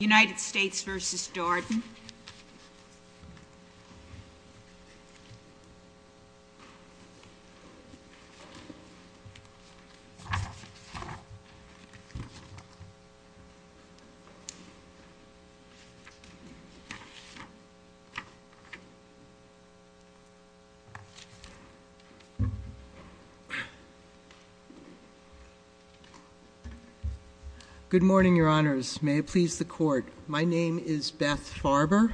United States v. Darden. Good morning, your honors. May it please the court. My name is Beth Farber,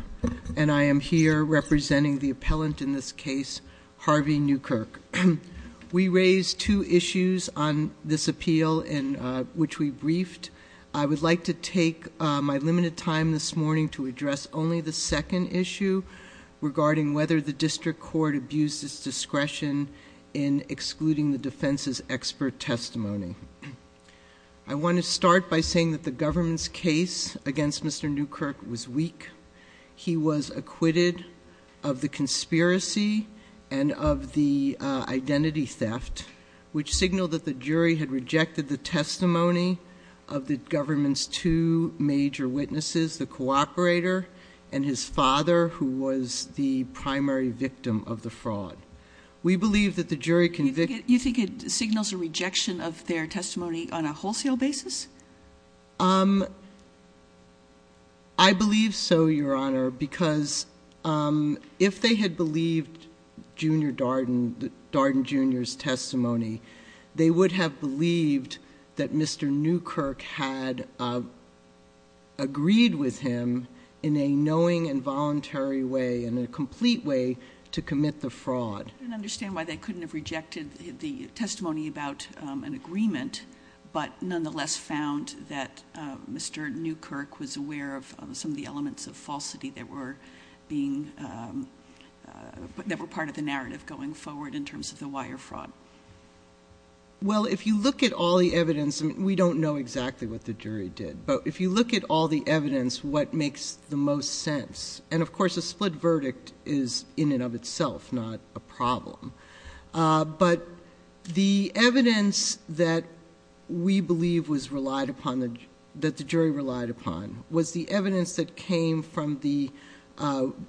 and I am here representing the appellant in this case, Harvey Newkirk. We raised two issues on this appeal, which we briefed. I would like to take my limited time this morning to address only the second issue regarding whether the district court abused its discretion in excluding the defense's expert testimony. I want to start by saying that the government's case against Mr. Newkirk was weak. He was acquitted of the conspiracy and of the identity theft, which signaled that the jury had rejected the testimony of the government's two major witnesses, the cooperator and his father, who was the primary victim of the fraud. We believe that the jury convicted— You think it signals a rejection of their testimony on a wholesale basis? I believe so, your honor, because if they had believed Junior Darden, Darden Jr.'s testimony, they would have believed that Mr. Newkirk had agreed with him in a knowing and voluntary way and in a complete way to commit the fraud. I don't understand why they couldn't have rejected the testimony about an agreement, but nonetheless found that Mr. Newkirk was aware of some of the elements of falsity that were being—that were part of the narrative going forward in terms of the wire fraud. Well, if you look at all the evidence—we don't know exactly what the jury did, but if you look at all the evidence, what makes the most sense—and of course, a split verdict is in and of itself not a problem—but the evidence that we believe was relied upon, that the jury relied upon, was the evidence that came from the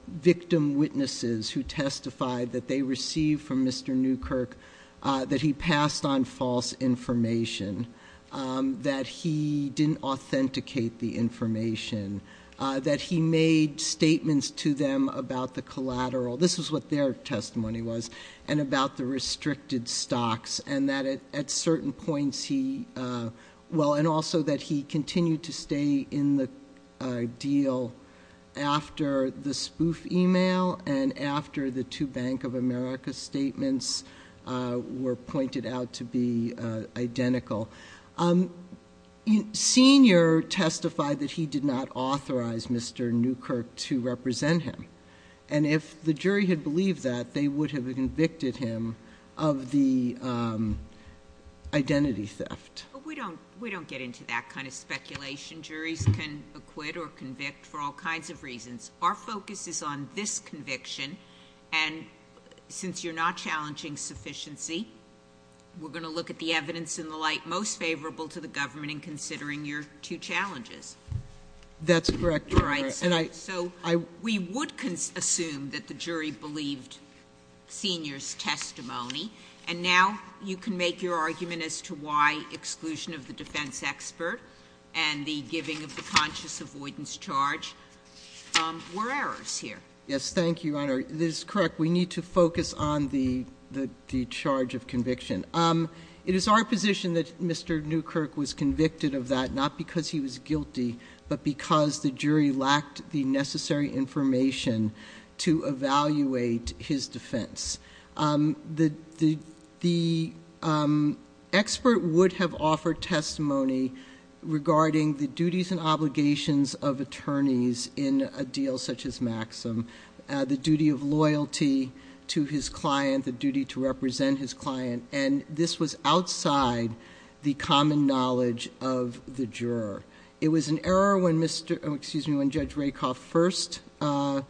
victim witnesses who testified that they received from Mr. Newkirk that he passed on false information, that he didn't authenticate the information, that he made statements to them about the collateral—this is what their testimony was—and about the restricted stocks, and that at certain points he—well, and also that he continued to stay in the deal after the spoof email and after the two Bank of America statements were pointed out to be identical. Senior testified that he did not authorize Mr. Newkirk to represent him, and if the jury had believed that, they would have convicted him of the identity theft. But we don't—we don't get into that kind of speculation. Juries can acquit or convict for all kinds of reasons. Our focus is on this conviction, and since you're not challenging sufficiency, we're going to look at the evidence and the like most favorable to the government in considering your two challenges. That's correct, Your Honor, and I— So we would assume that the jury believed Senior's testimony, and now you can make your argument as to why exclusion of the defense expert and the giving of the conscious avoidance charge were errors here. Yes, thank you, Your Honor. This is correct. We need to focus on the charge of conviction. It is our position that Mr. Newkirk was convicted of that not because he was guilty, but because the jury lacked the necessary information to evaluate his defense. The expert would have offered testimony regarding the duties and obligations of attorneys in a deal such as Maxim, the duty of loyalty to his client, the duty to represent his client, and this was outside the common knowledge of the juror. It was an error when Mr.—excuse me, when Judge Rakoff first— So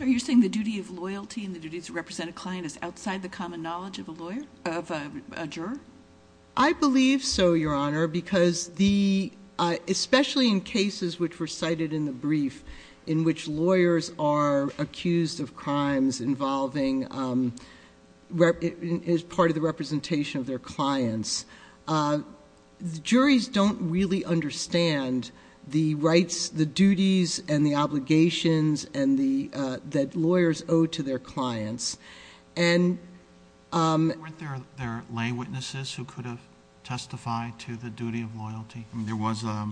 you're saying the duty of loyalty and the duty to represent a client is outside the common knowledge of a lawyer—of a juror? I believe so, Your Honor, because the—especially in cases which were cited in the brief in which lawyers are accused of crimes involving—as part of the representation of their clients, the juries don't really understand the rights, the duties, and the obligations that lawyers owe to their clients. Weren't there lay witnesses who could have testified to the duty of loyalty? I mean, there was a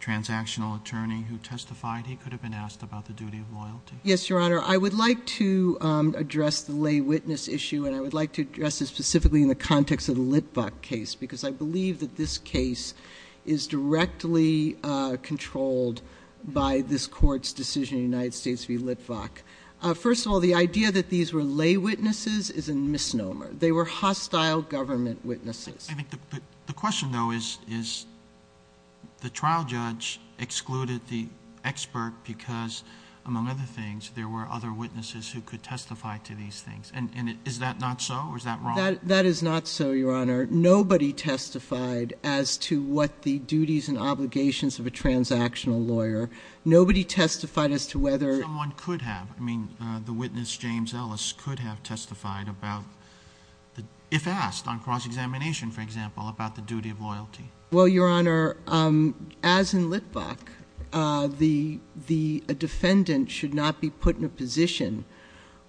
transactional attorney who testified. He could have been asked about the duty of loyalty. Yes, Your Honor. I would like to address the lay witness issue, and I would like to address this specifically in the context of the Litvock case, because I believe that this case is directly controlled by this Court's decision in the United States v. Litvock. First of all, the idea that these were lay witnesses is a misnomer. They were hostile government witnesses. I think the question, though, is the trial judge excluded the expert because, among other things, there were other witnesses who could testify to these things. Is that not so, or is that wrong? That is not so, Your Honor. Nobody testified as to what the duties and obligations of a transactional lawyer—nobody testified as to whether— Witness James Ellis could have testified, if asked on cross-examination, for example, about the duty of loyalty. Well, Your Honor, as in Litvock, a defendant should not be put in a position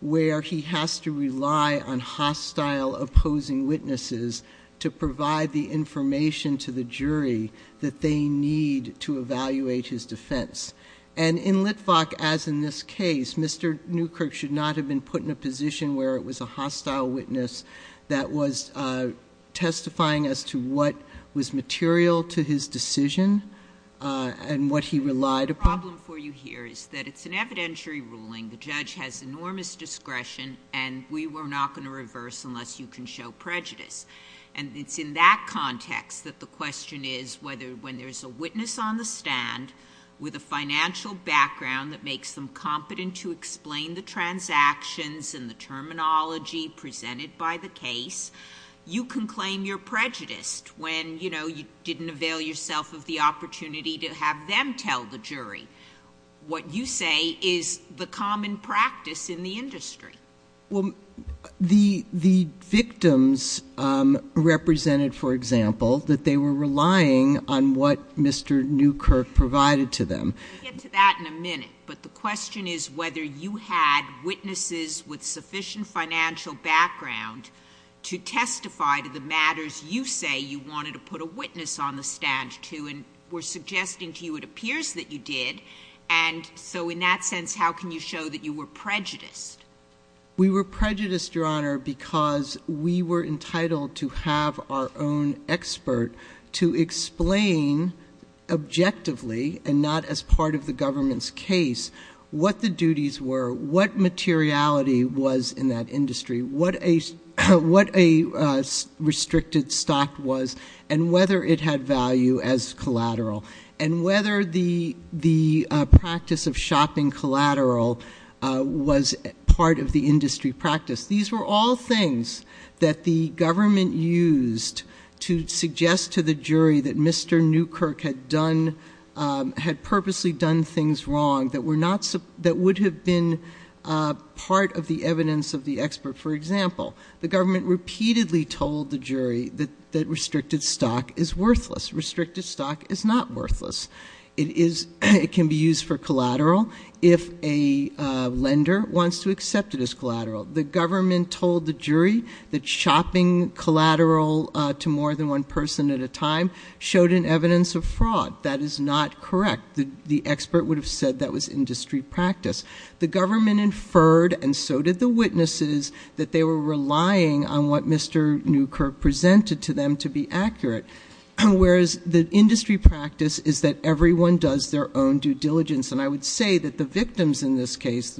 where he has to rely on hostile opposing witnesses to provide the information to the jury that they need to evaluate his defense. And in Litvock, as in this case, Mr. Newkirk should not have been put in a position where it was a hostile witness that was testifying as to what was material to his decision and what he relied upon. The problem for you here is that it's an evidentiary ruling. The judge has enormous discretion, and we were not going to reverse unless you can show prejudice. And it's in that context that the question is whether, when there's a witness on the stand with a financial background that makes them competent to explain the transactions and the terminology presented by the case, you can claim you're prejudiced when, you know, you didn't avail yourself of the opportunity to have them tell the jury what you say is the common practice in the industry. Well, the victims represented, for example, that they were relying on what Mr. Newkirk provided to them. We'll get to that in a minute. But the question is whether you had witnesses with sufficient financial background to testify to the matters you say you wanted to put a witness on the stand to and were suggesting to you it appears that you did. And so in that sense, how can you show that you were prejudiced? We were prejudiced, Your Honor, because we were entitled to have our own expert to explain objectively and not as part of the government's case what the duties were, what materiality was in that industry, what a restricted stock was, and whether it had value as collateral, and whether the practice of shopping collateral was part of the industry practice. These were all things that the government used to suggest to the jury that Mr. Newkirk had purposely done things wrong that would have been part of the evidence of the expert. For example, the government repeatedly told the jury that restricted stock is worthless. Restricted stock is not worthless. It can be used for collateral if a lender wants to accept it as collateral. The government told the jury that shopping collateral to more than one person at a time showed an evidence of fraud. That is not correct. The expert would have said that was industry practice. The government inferred, and so did the witnesses, that they were relying on what Mr. Newkirk presented to them to be accurate, whereas the industry practice is that everyone does their own due diligence. I would say that the victims in this case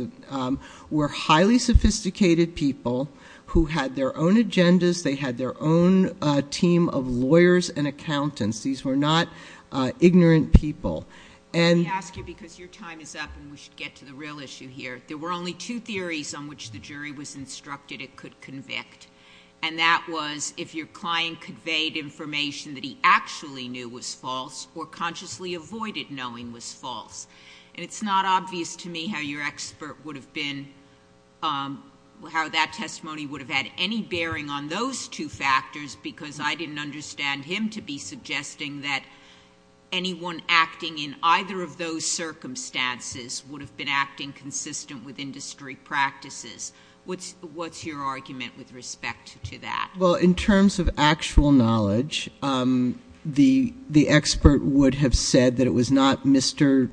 were highly sophisticated people who had their own agendas. They had their own team of lawyers and accountants. These were not ignorant people. I ask you because your time is up and we should get to the real issue here. There were only two theories on which the jury was instructed it could convict, and that was if your client conveyed information that he actually knew was false or consciously avoided knowing was false. It is not obvious to me how your expert would have been, how that testimony would have had any bearing on those two factors because I did not understand him to be suggesting that anyone acting in either of those circumstances would have been acting consistent with industry practices. What is your argument with respect to that? In terms of actual knowledge, the expert would have said that it was not Mr.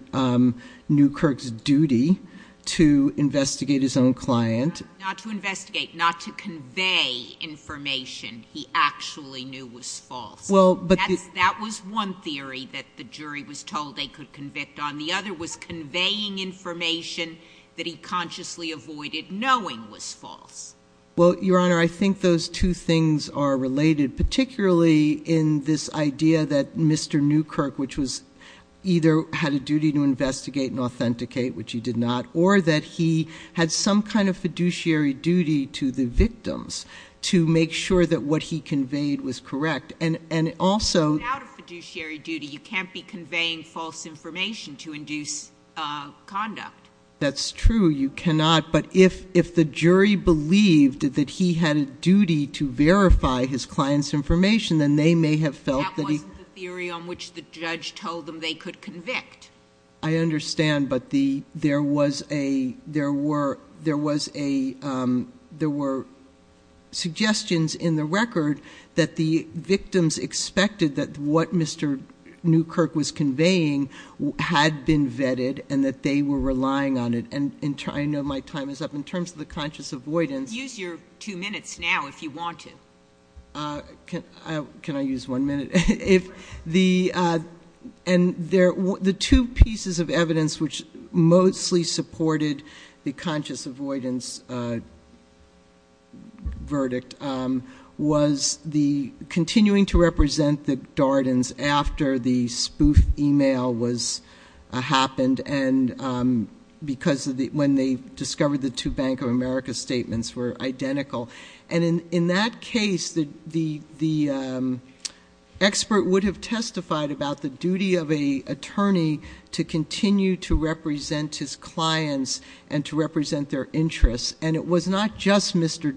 Newkirk's duty to investigate his own client. Not to investigate, not to convey information he actually knew was false. That was one theory that the jury was told they could convict on. The other was conveying information that he consciously avoided knowing was false. Well, Your Honor, I think those two things are related, particularly in this idea that Mr. Newkirk, which was either had a duty to investigate and authenticate, which he did not, or that he had some kind of fiduciary duty to the victims to make sure that what he conveyed was correct. And also... Without a fiduciary duty, you can't be conveying false information to induce conduct. That's true. You cannot. But if the jury believed that he had a duty to verify his client's information, then they may have felt that he... That wasn't the theory on which the judge told them they could convict. I understand. But there were suggestions in the record that the victims expected that what Mr. Newkirk was conveying had been vetted and that they were relying on it. And I know my time is up. In terms of the conscious avoidance... Use your two minutes now if you want to. Can I use one minute? And the two pieces of evidence which mostly supported the conscious avoidance verdict was the continuing to represent the Dardens after the spoof email happened and when they discovered the two Bank of America statements were identical. And in that case, the expert would have testified about the duty of an attorney to continue to represent his clients and to represent their interests. And it was not just Mr.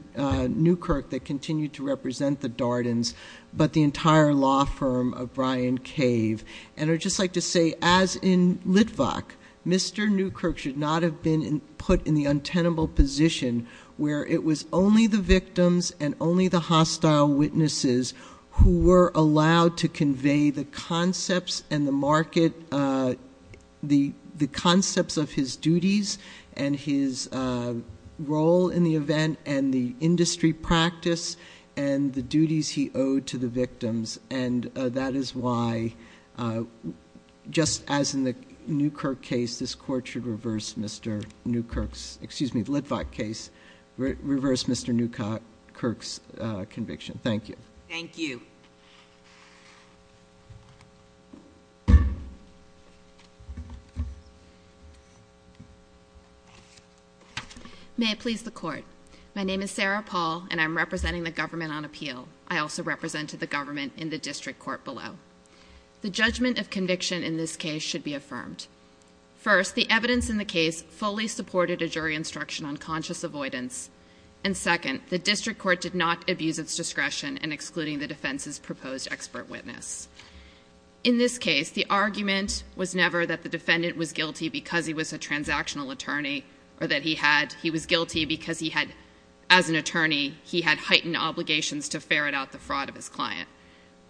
Newkirk that continued to represent the Dardens, but the entire law firm of Brian Cave. And I'd just like to say, as in Litvak, Mr. Newkirk should not have been put in the untenable position where it was only the victims and only the hostile witnesses who were allowed to convey the concepts of his duties and the and his role in the event and the industry practice and the duties he owed to the victims. And that is why, just as in the Newkirk case, this court should reverse Mr. Newkirk's, excuse me, the Litvak case, reverse Mr. Newkirk's conviction. Thank you. Thank you. May it please the court. My name is Sarah Paul, and I'm representing the government on appeal. I also represented the government in the district court below. The judgment of conviction in this case should be affirmed. First, the evidence in the case fully supported a jury instruction on conscious avoidance. And second, the district court did not abuse its discretion in excluding the defense's proposed expert witness. In this case, the defendant was guilty because he had, as an attorney, he had heightened obligations to ferret out the fraud of his client.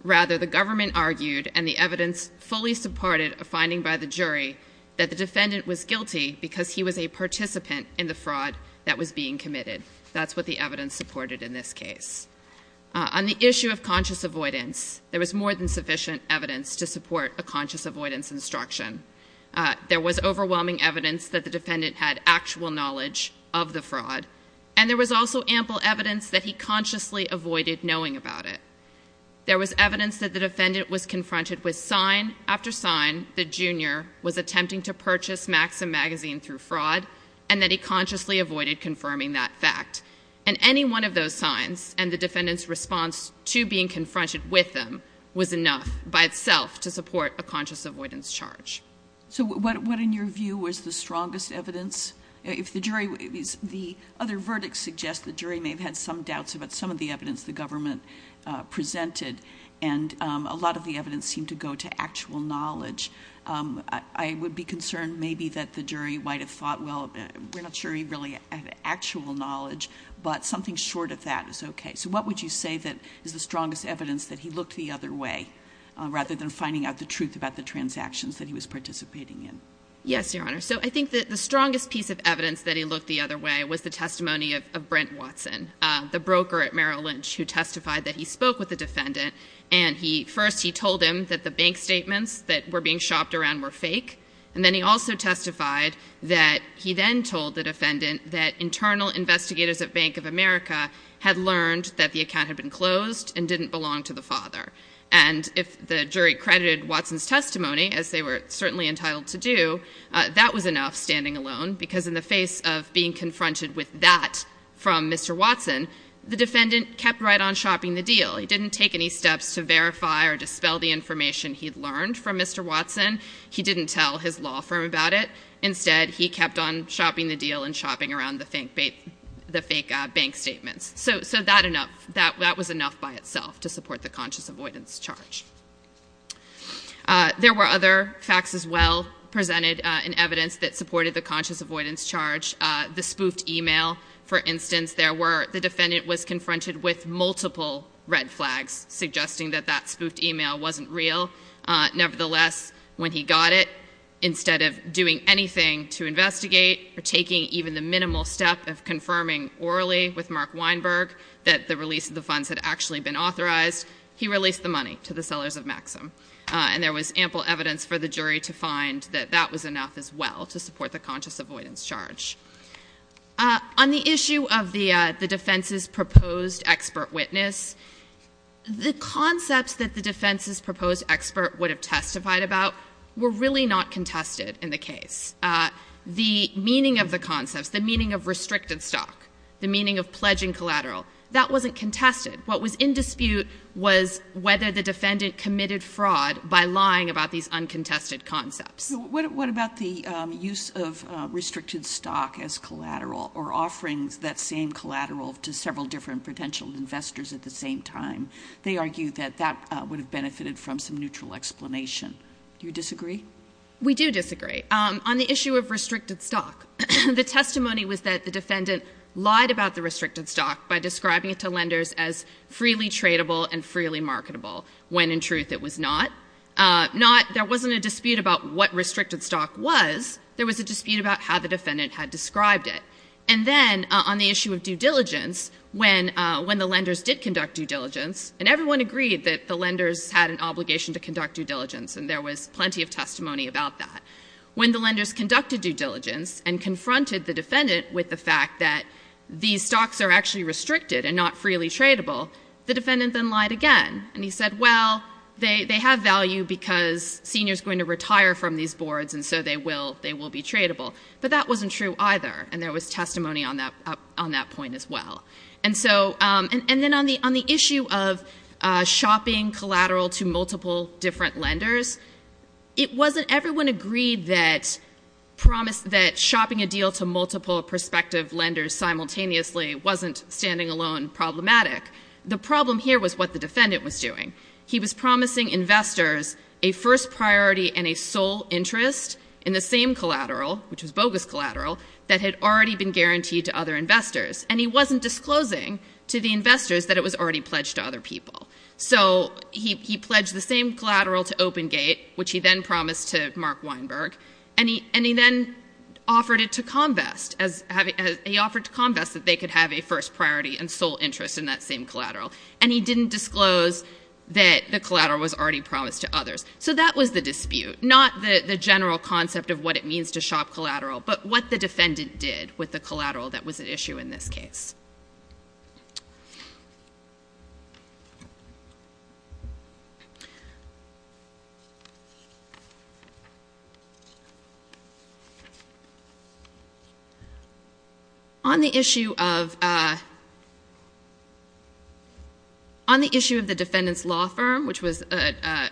Rather, the government argued, and the evidence fully supported a finding by the jury, that the defendant was guilty because he was a participant in the fraud that was being committed. That's what the evidence supported in this case. On the issue of conscious avoidance, there was more than sufficient evidence to support a conscious avoidance instruction. There was overwhelming evidence that the defendant had actual knowledge of the fraud, and there was also ample evidence that he consciously avoided knowing about it. There was evidence that the defendant was confronted with sign after sign that Junior was attempting to purchase Maxim magazine through fraud, and that he consciously avoided confirming that fact. And any one of those signs and the defendant's being confronted with them was enough by itself to support a conscious avoidance charge. So what in your view was the strongest evidence? If the jury, the other verdicts suggest the jury may have had some doubts about some of the evidence the government presented, and a lot of the evidence seemed to go to actual knowledge. I would be concerned maybe that the jury might have thought, well, we're not sure he really had actual knowledge, but something short of that is okay. So what would you say is the strongest evidence that he looked the other way, rather than finding out the truth about the transactions that he was participating in? Yes, Your Honor. So I think that the strongest piece of evidence that he looked the other way was the testimony of Brent Watson, the broker at Merrill Lynch, who testified that he spoke with the defendant, and first he told him that the bank statements that were being shopped around were fake, and then he also testified that he then told the defendant that internal investigators at Bank of America had learned that the account had been closed and didn't belong to the father. And if the jury credited Watson's testimony, as they were certainly entitled to do, that was enough standing alone, because in the face of being confronted with that from Mr. Watson, the defendant kept right on shopping the deal. He didn't take any steps to verify or dispel the information he had learned from Mr. Watson. He didn't tell his law firm about it. Instead, he kept on shopping the deal and shopping around the fake bank statements. So that was enough by itself to support the conscious avoidance charge. There were other facts as well presented in evidence that supported the conscious avoidance charge. The spoofed e-mail, for instance, the defendant was confronted with multiple red flags suggesting that that spoofed e-mail wasn't real. Nevertheless, when he got it, instead of doing anything to investigate or taking even the minimal step of confirming orally with Mark Weinberg that the release of the funds had actually been authorized, he released the money to the sellers of Maxim. And there was ample evidence for the jury to find that that was enough as well to support the conscious avoidance charge. On the issue of the defense's proposed expert witness, the concepts that the defense's proposed expert would have testified about were really not contested in the case. The meaning of the concepts, the meaning of restricted stock, the meaning of pledging collateral, that wasn't contested. What was in dispute was whether the defendant committed fraud by lying about these uncontested concepts. What about the use of restricted stock as collateral or offerings that same collateral to several different potential investors at the same time? They argue that that would have benefited from some neutral explanation. Do you disagree? We do disagree. On the issue of restricted stock, the testimony was that the defendant lied about the restricted stock by describing it to lenders as freely tradable and freely tradable. When the lenders confronted the defendant with the fact that these stocks are actually restricted and not freely tradable, the defendant then lied again. And he said, well, they have value because seniors are going to retire from these boards, and so they will be tradable. But that wasn't true either. And there was testimony on that point as well. And then on the issue of shopping collateral to multiple different lenders, it wasn't everyone agreed that shopping a deal to multiple prospective lenders simultaneously wasn't standing alone problematic. The problem here was what the defendant was doing. He was promising investors a first priority and a sole interest in the same collateral, which was bogus collateral, that had already been guaranteed to other investors. And he wasn't disclosing to the investors that it was already pledged to other people. So he pledged the same collateral to OpenGate, which he then promised to Mark Weinberg, and he then offered it to ComVest. He offered to ComVest that they could have a first priority and sole interest in that same collateral. And he didn't disclose that the collateral was already promised to others. So that was the dispute, not the general concept of what it means to shop collateral, but what the defendant did with the collateral that was at issue in this case. On the issue of the defendant's law firm, which was an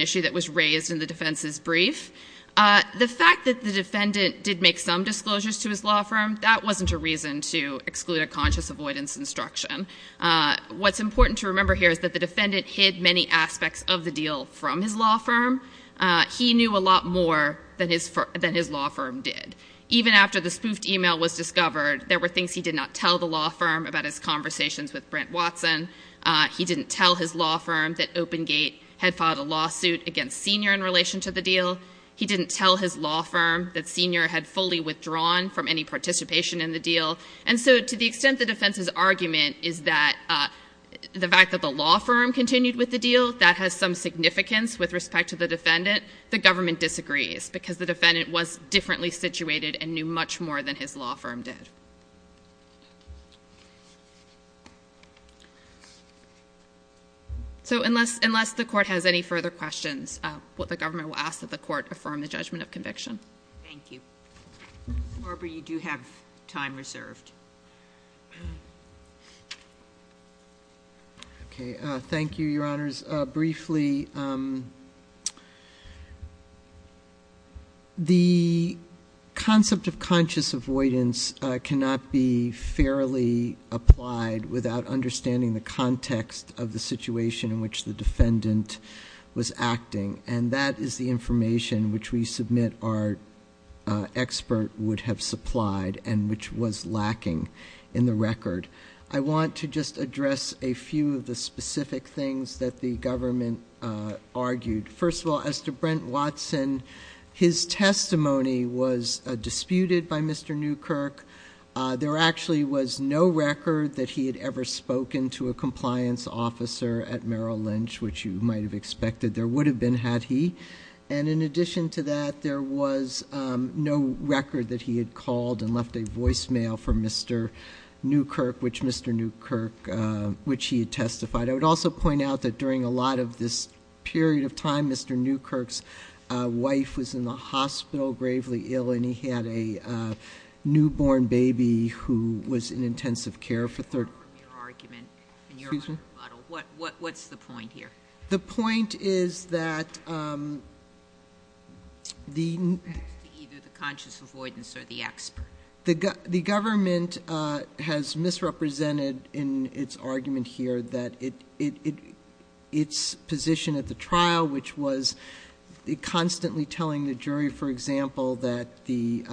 issue that was raised in the defense's brief, the fact that the defendant did make some disclosures to his law firm, that wasn't a reason to exclude a conscious avoidance instruction. What's important to remember here is that the defendant hid many aspects of the deal from his law firm. He knew a lot more than his law firm did. Even after the spoofed email was discovered, there were things he did not tell the law firm about his conversations with Brent Watson. He didn't tell his law firm that OpenGate had filed a lawsuit against Senior in relation to the deal. He didn't tell his law firm that Senior had fully withdrawn from any participation in the deal. And so to the extent the defense's argument is that the fact that the law firm continued with the deal, that has some significance with respect to the defendant, the government disagrees, because the defendant was differently situated and knew much more than his law firm did. So unless the court has any further questions, the government will ask that the court affirm the judgment of conviction. Thank you. Barbara, you do have time reserved. Thank you, Your Honors. Briefly, the concept of conscious avoidance cannot be fairly applied without understanding the context of the situation in which the defendant was acting. And that is the information which we submit our expert would have supplied and which was lacking in the record. I want to just address a few of the specific things that the government argued. First of all, as to Brent Watson, his testimony was disputed by Mr. Newkirk. There actually was no record that he had ever spoken to a compliance officer at Merrill that you might have expected there would have been, had he. And in addition to that, there was no record that he had called and left a voicemail for Mr. Newkirk, which he had testified. I would also point out that during a lot of this period of time, Mr. Newkirk's wife was in the hospital, gravely ill, and he had a newborn baby who was in intensive care What's the point here? The point is that the government has misrepresented in its argument here that its position at the trial, which was constantly telling the jury, for example, that the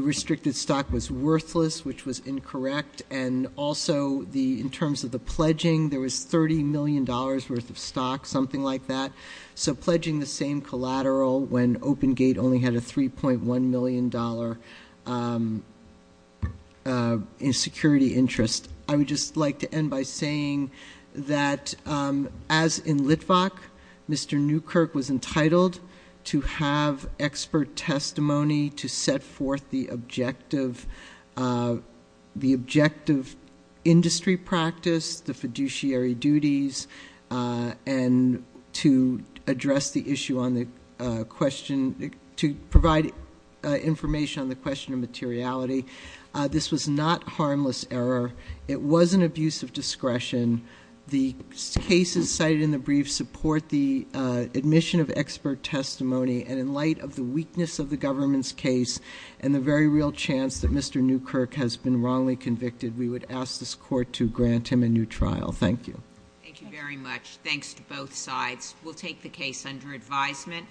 restricted stock was worthless, which was incorrect, and also in terms of the pledging, there was $30 million worth of stock, something like that. So pledging the same collateral when OpenGate only had a $3.1 million security interest. I would just like to end by saying that, as in Litvak, Mr. Newkirk was entitled to have expert testimony to set forth the objective industry practice, the fiduciary duties, and to provide information on the question of materiality. This was not harmless error. It wasn't abuse of discretion. The cases cited in the brief support the admission of expert testimony, and in light of the weakness of the government's case and the very real chance that Mr. Newkirk has been wrongly convicted, we would ask this court to grant him a new trial. Thank you. Thank you very much. Thanks to both sides. We'll take the case under advisement.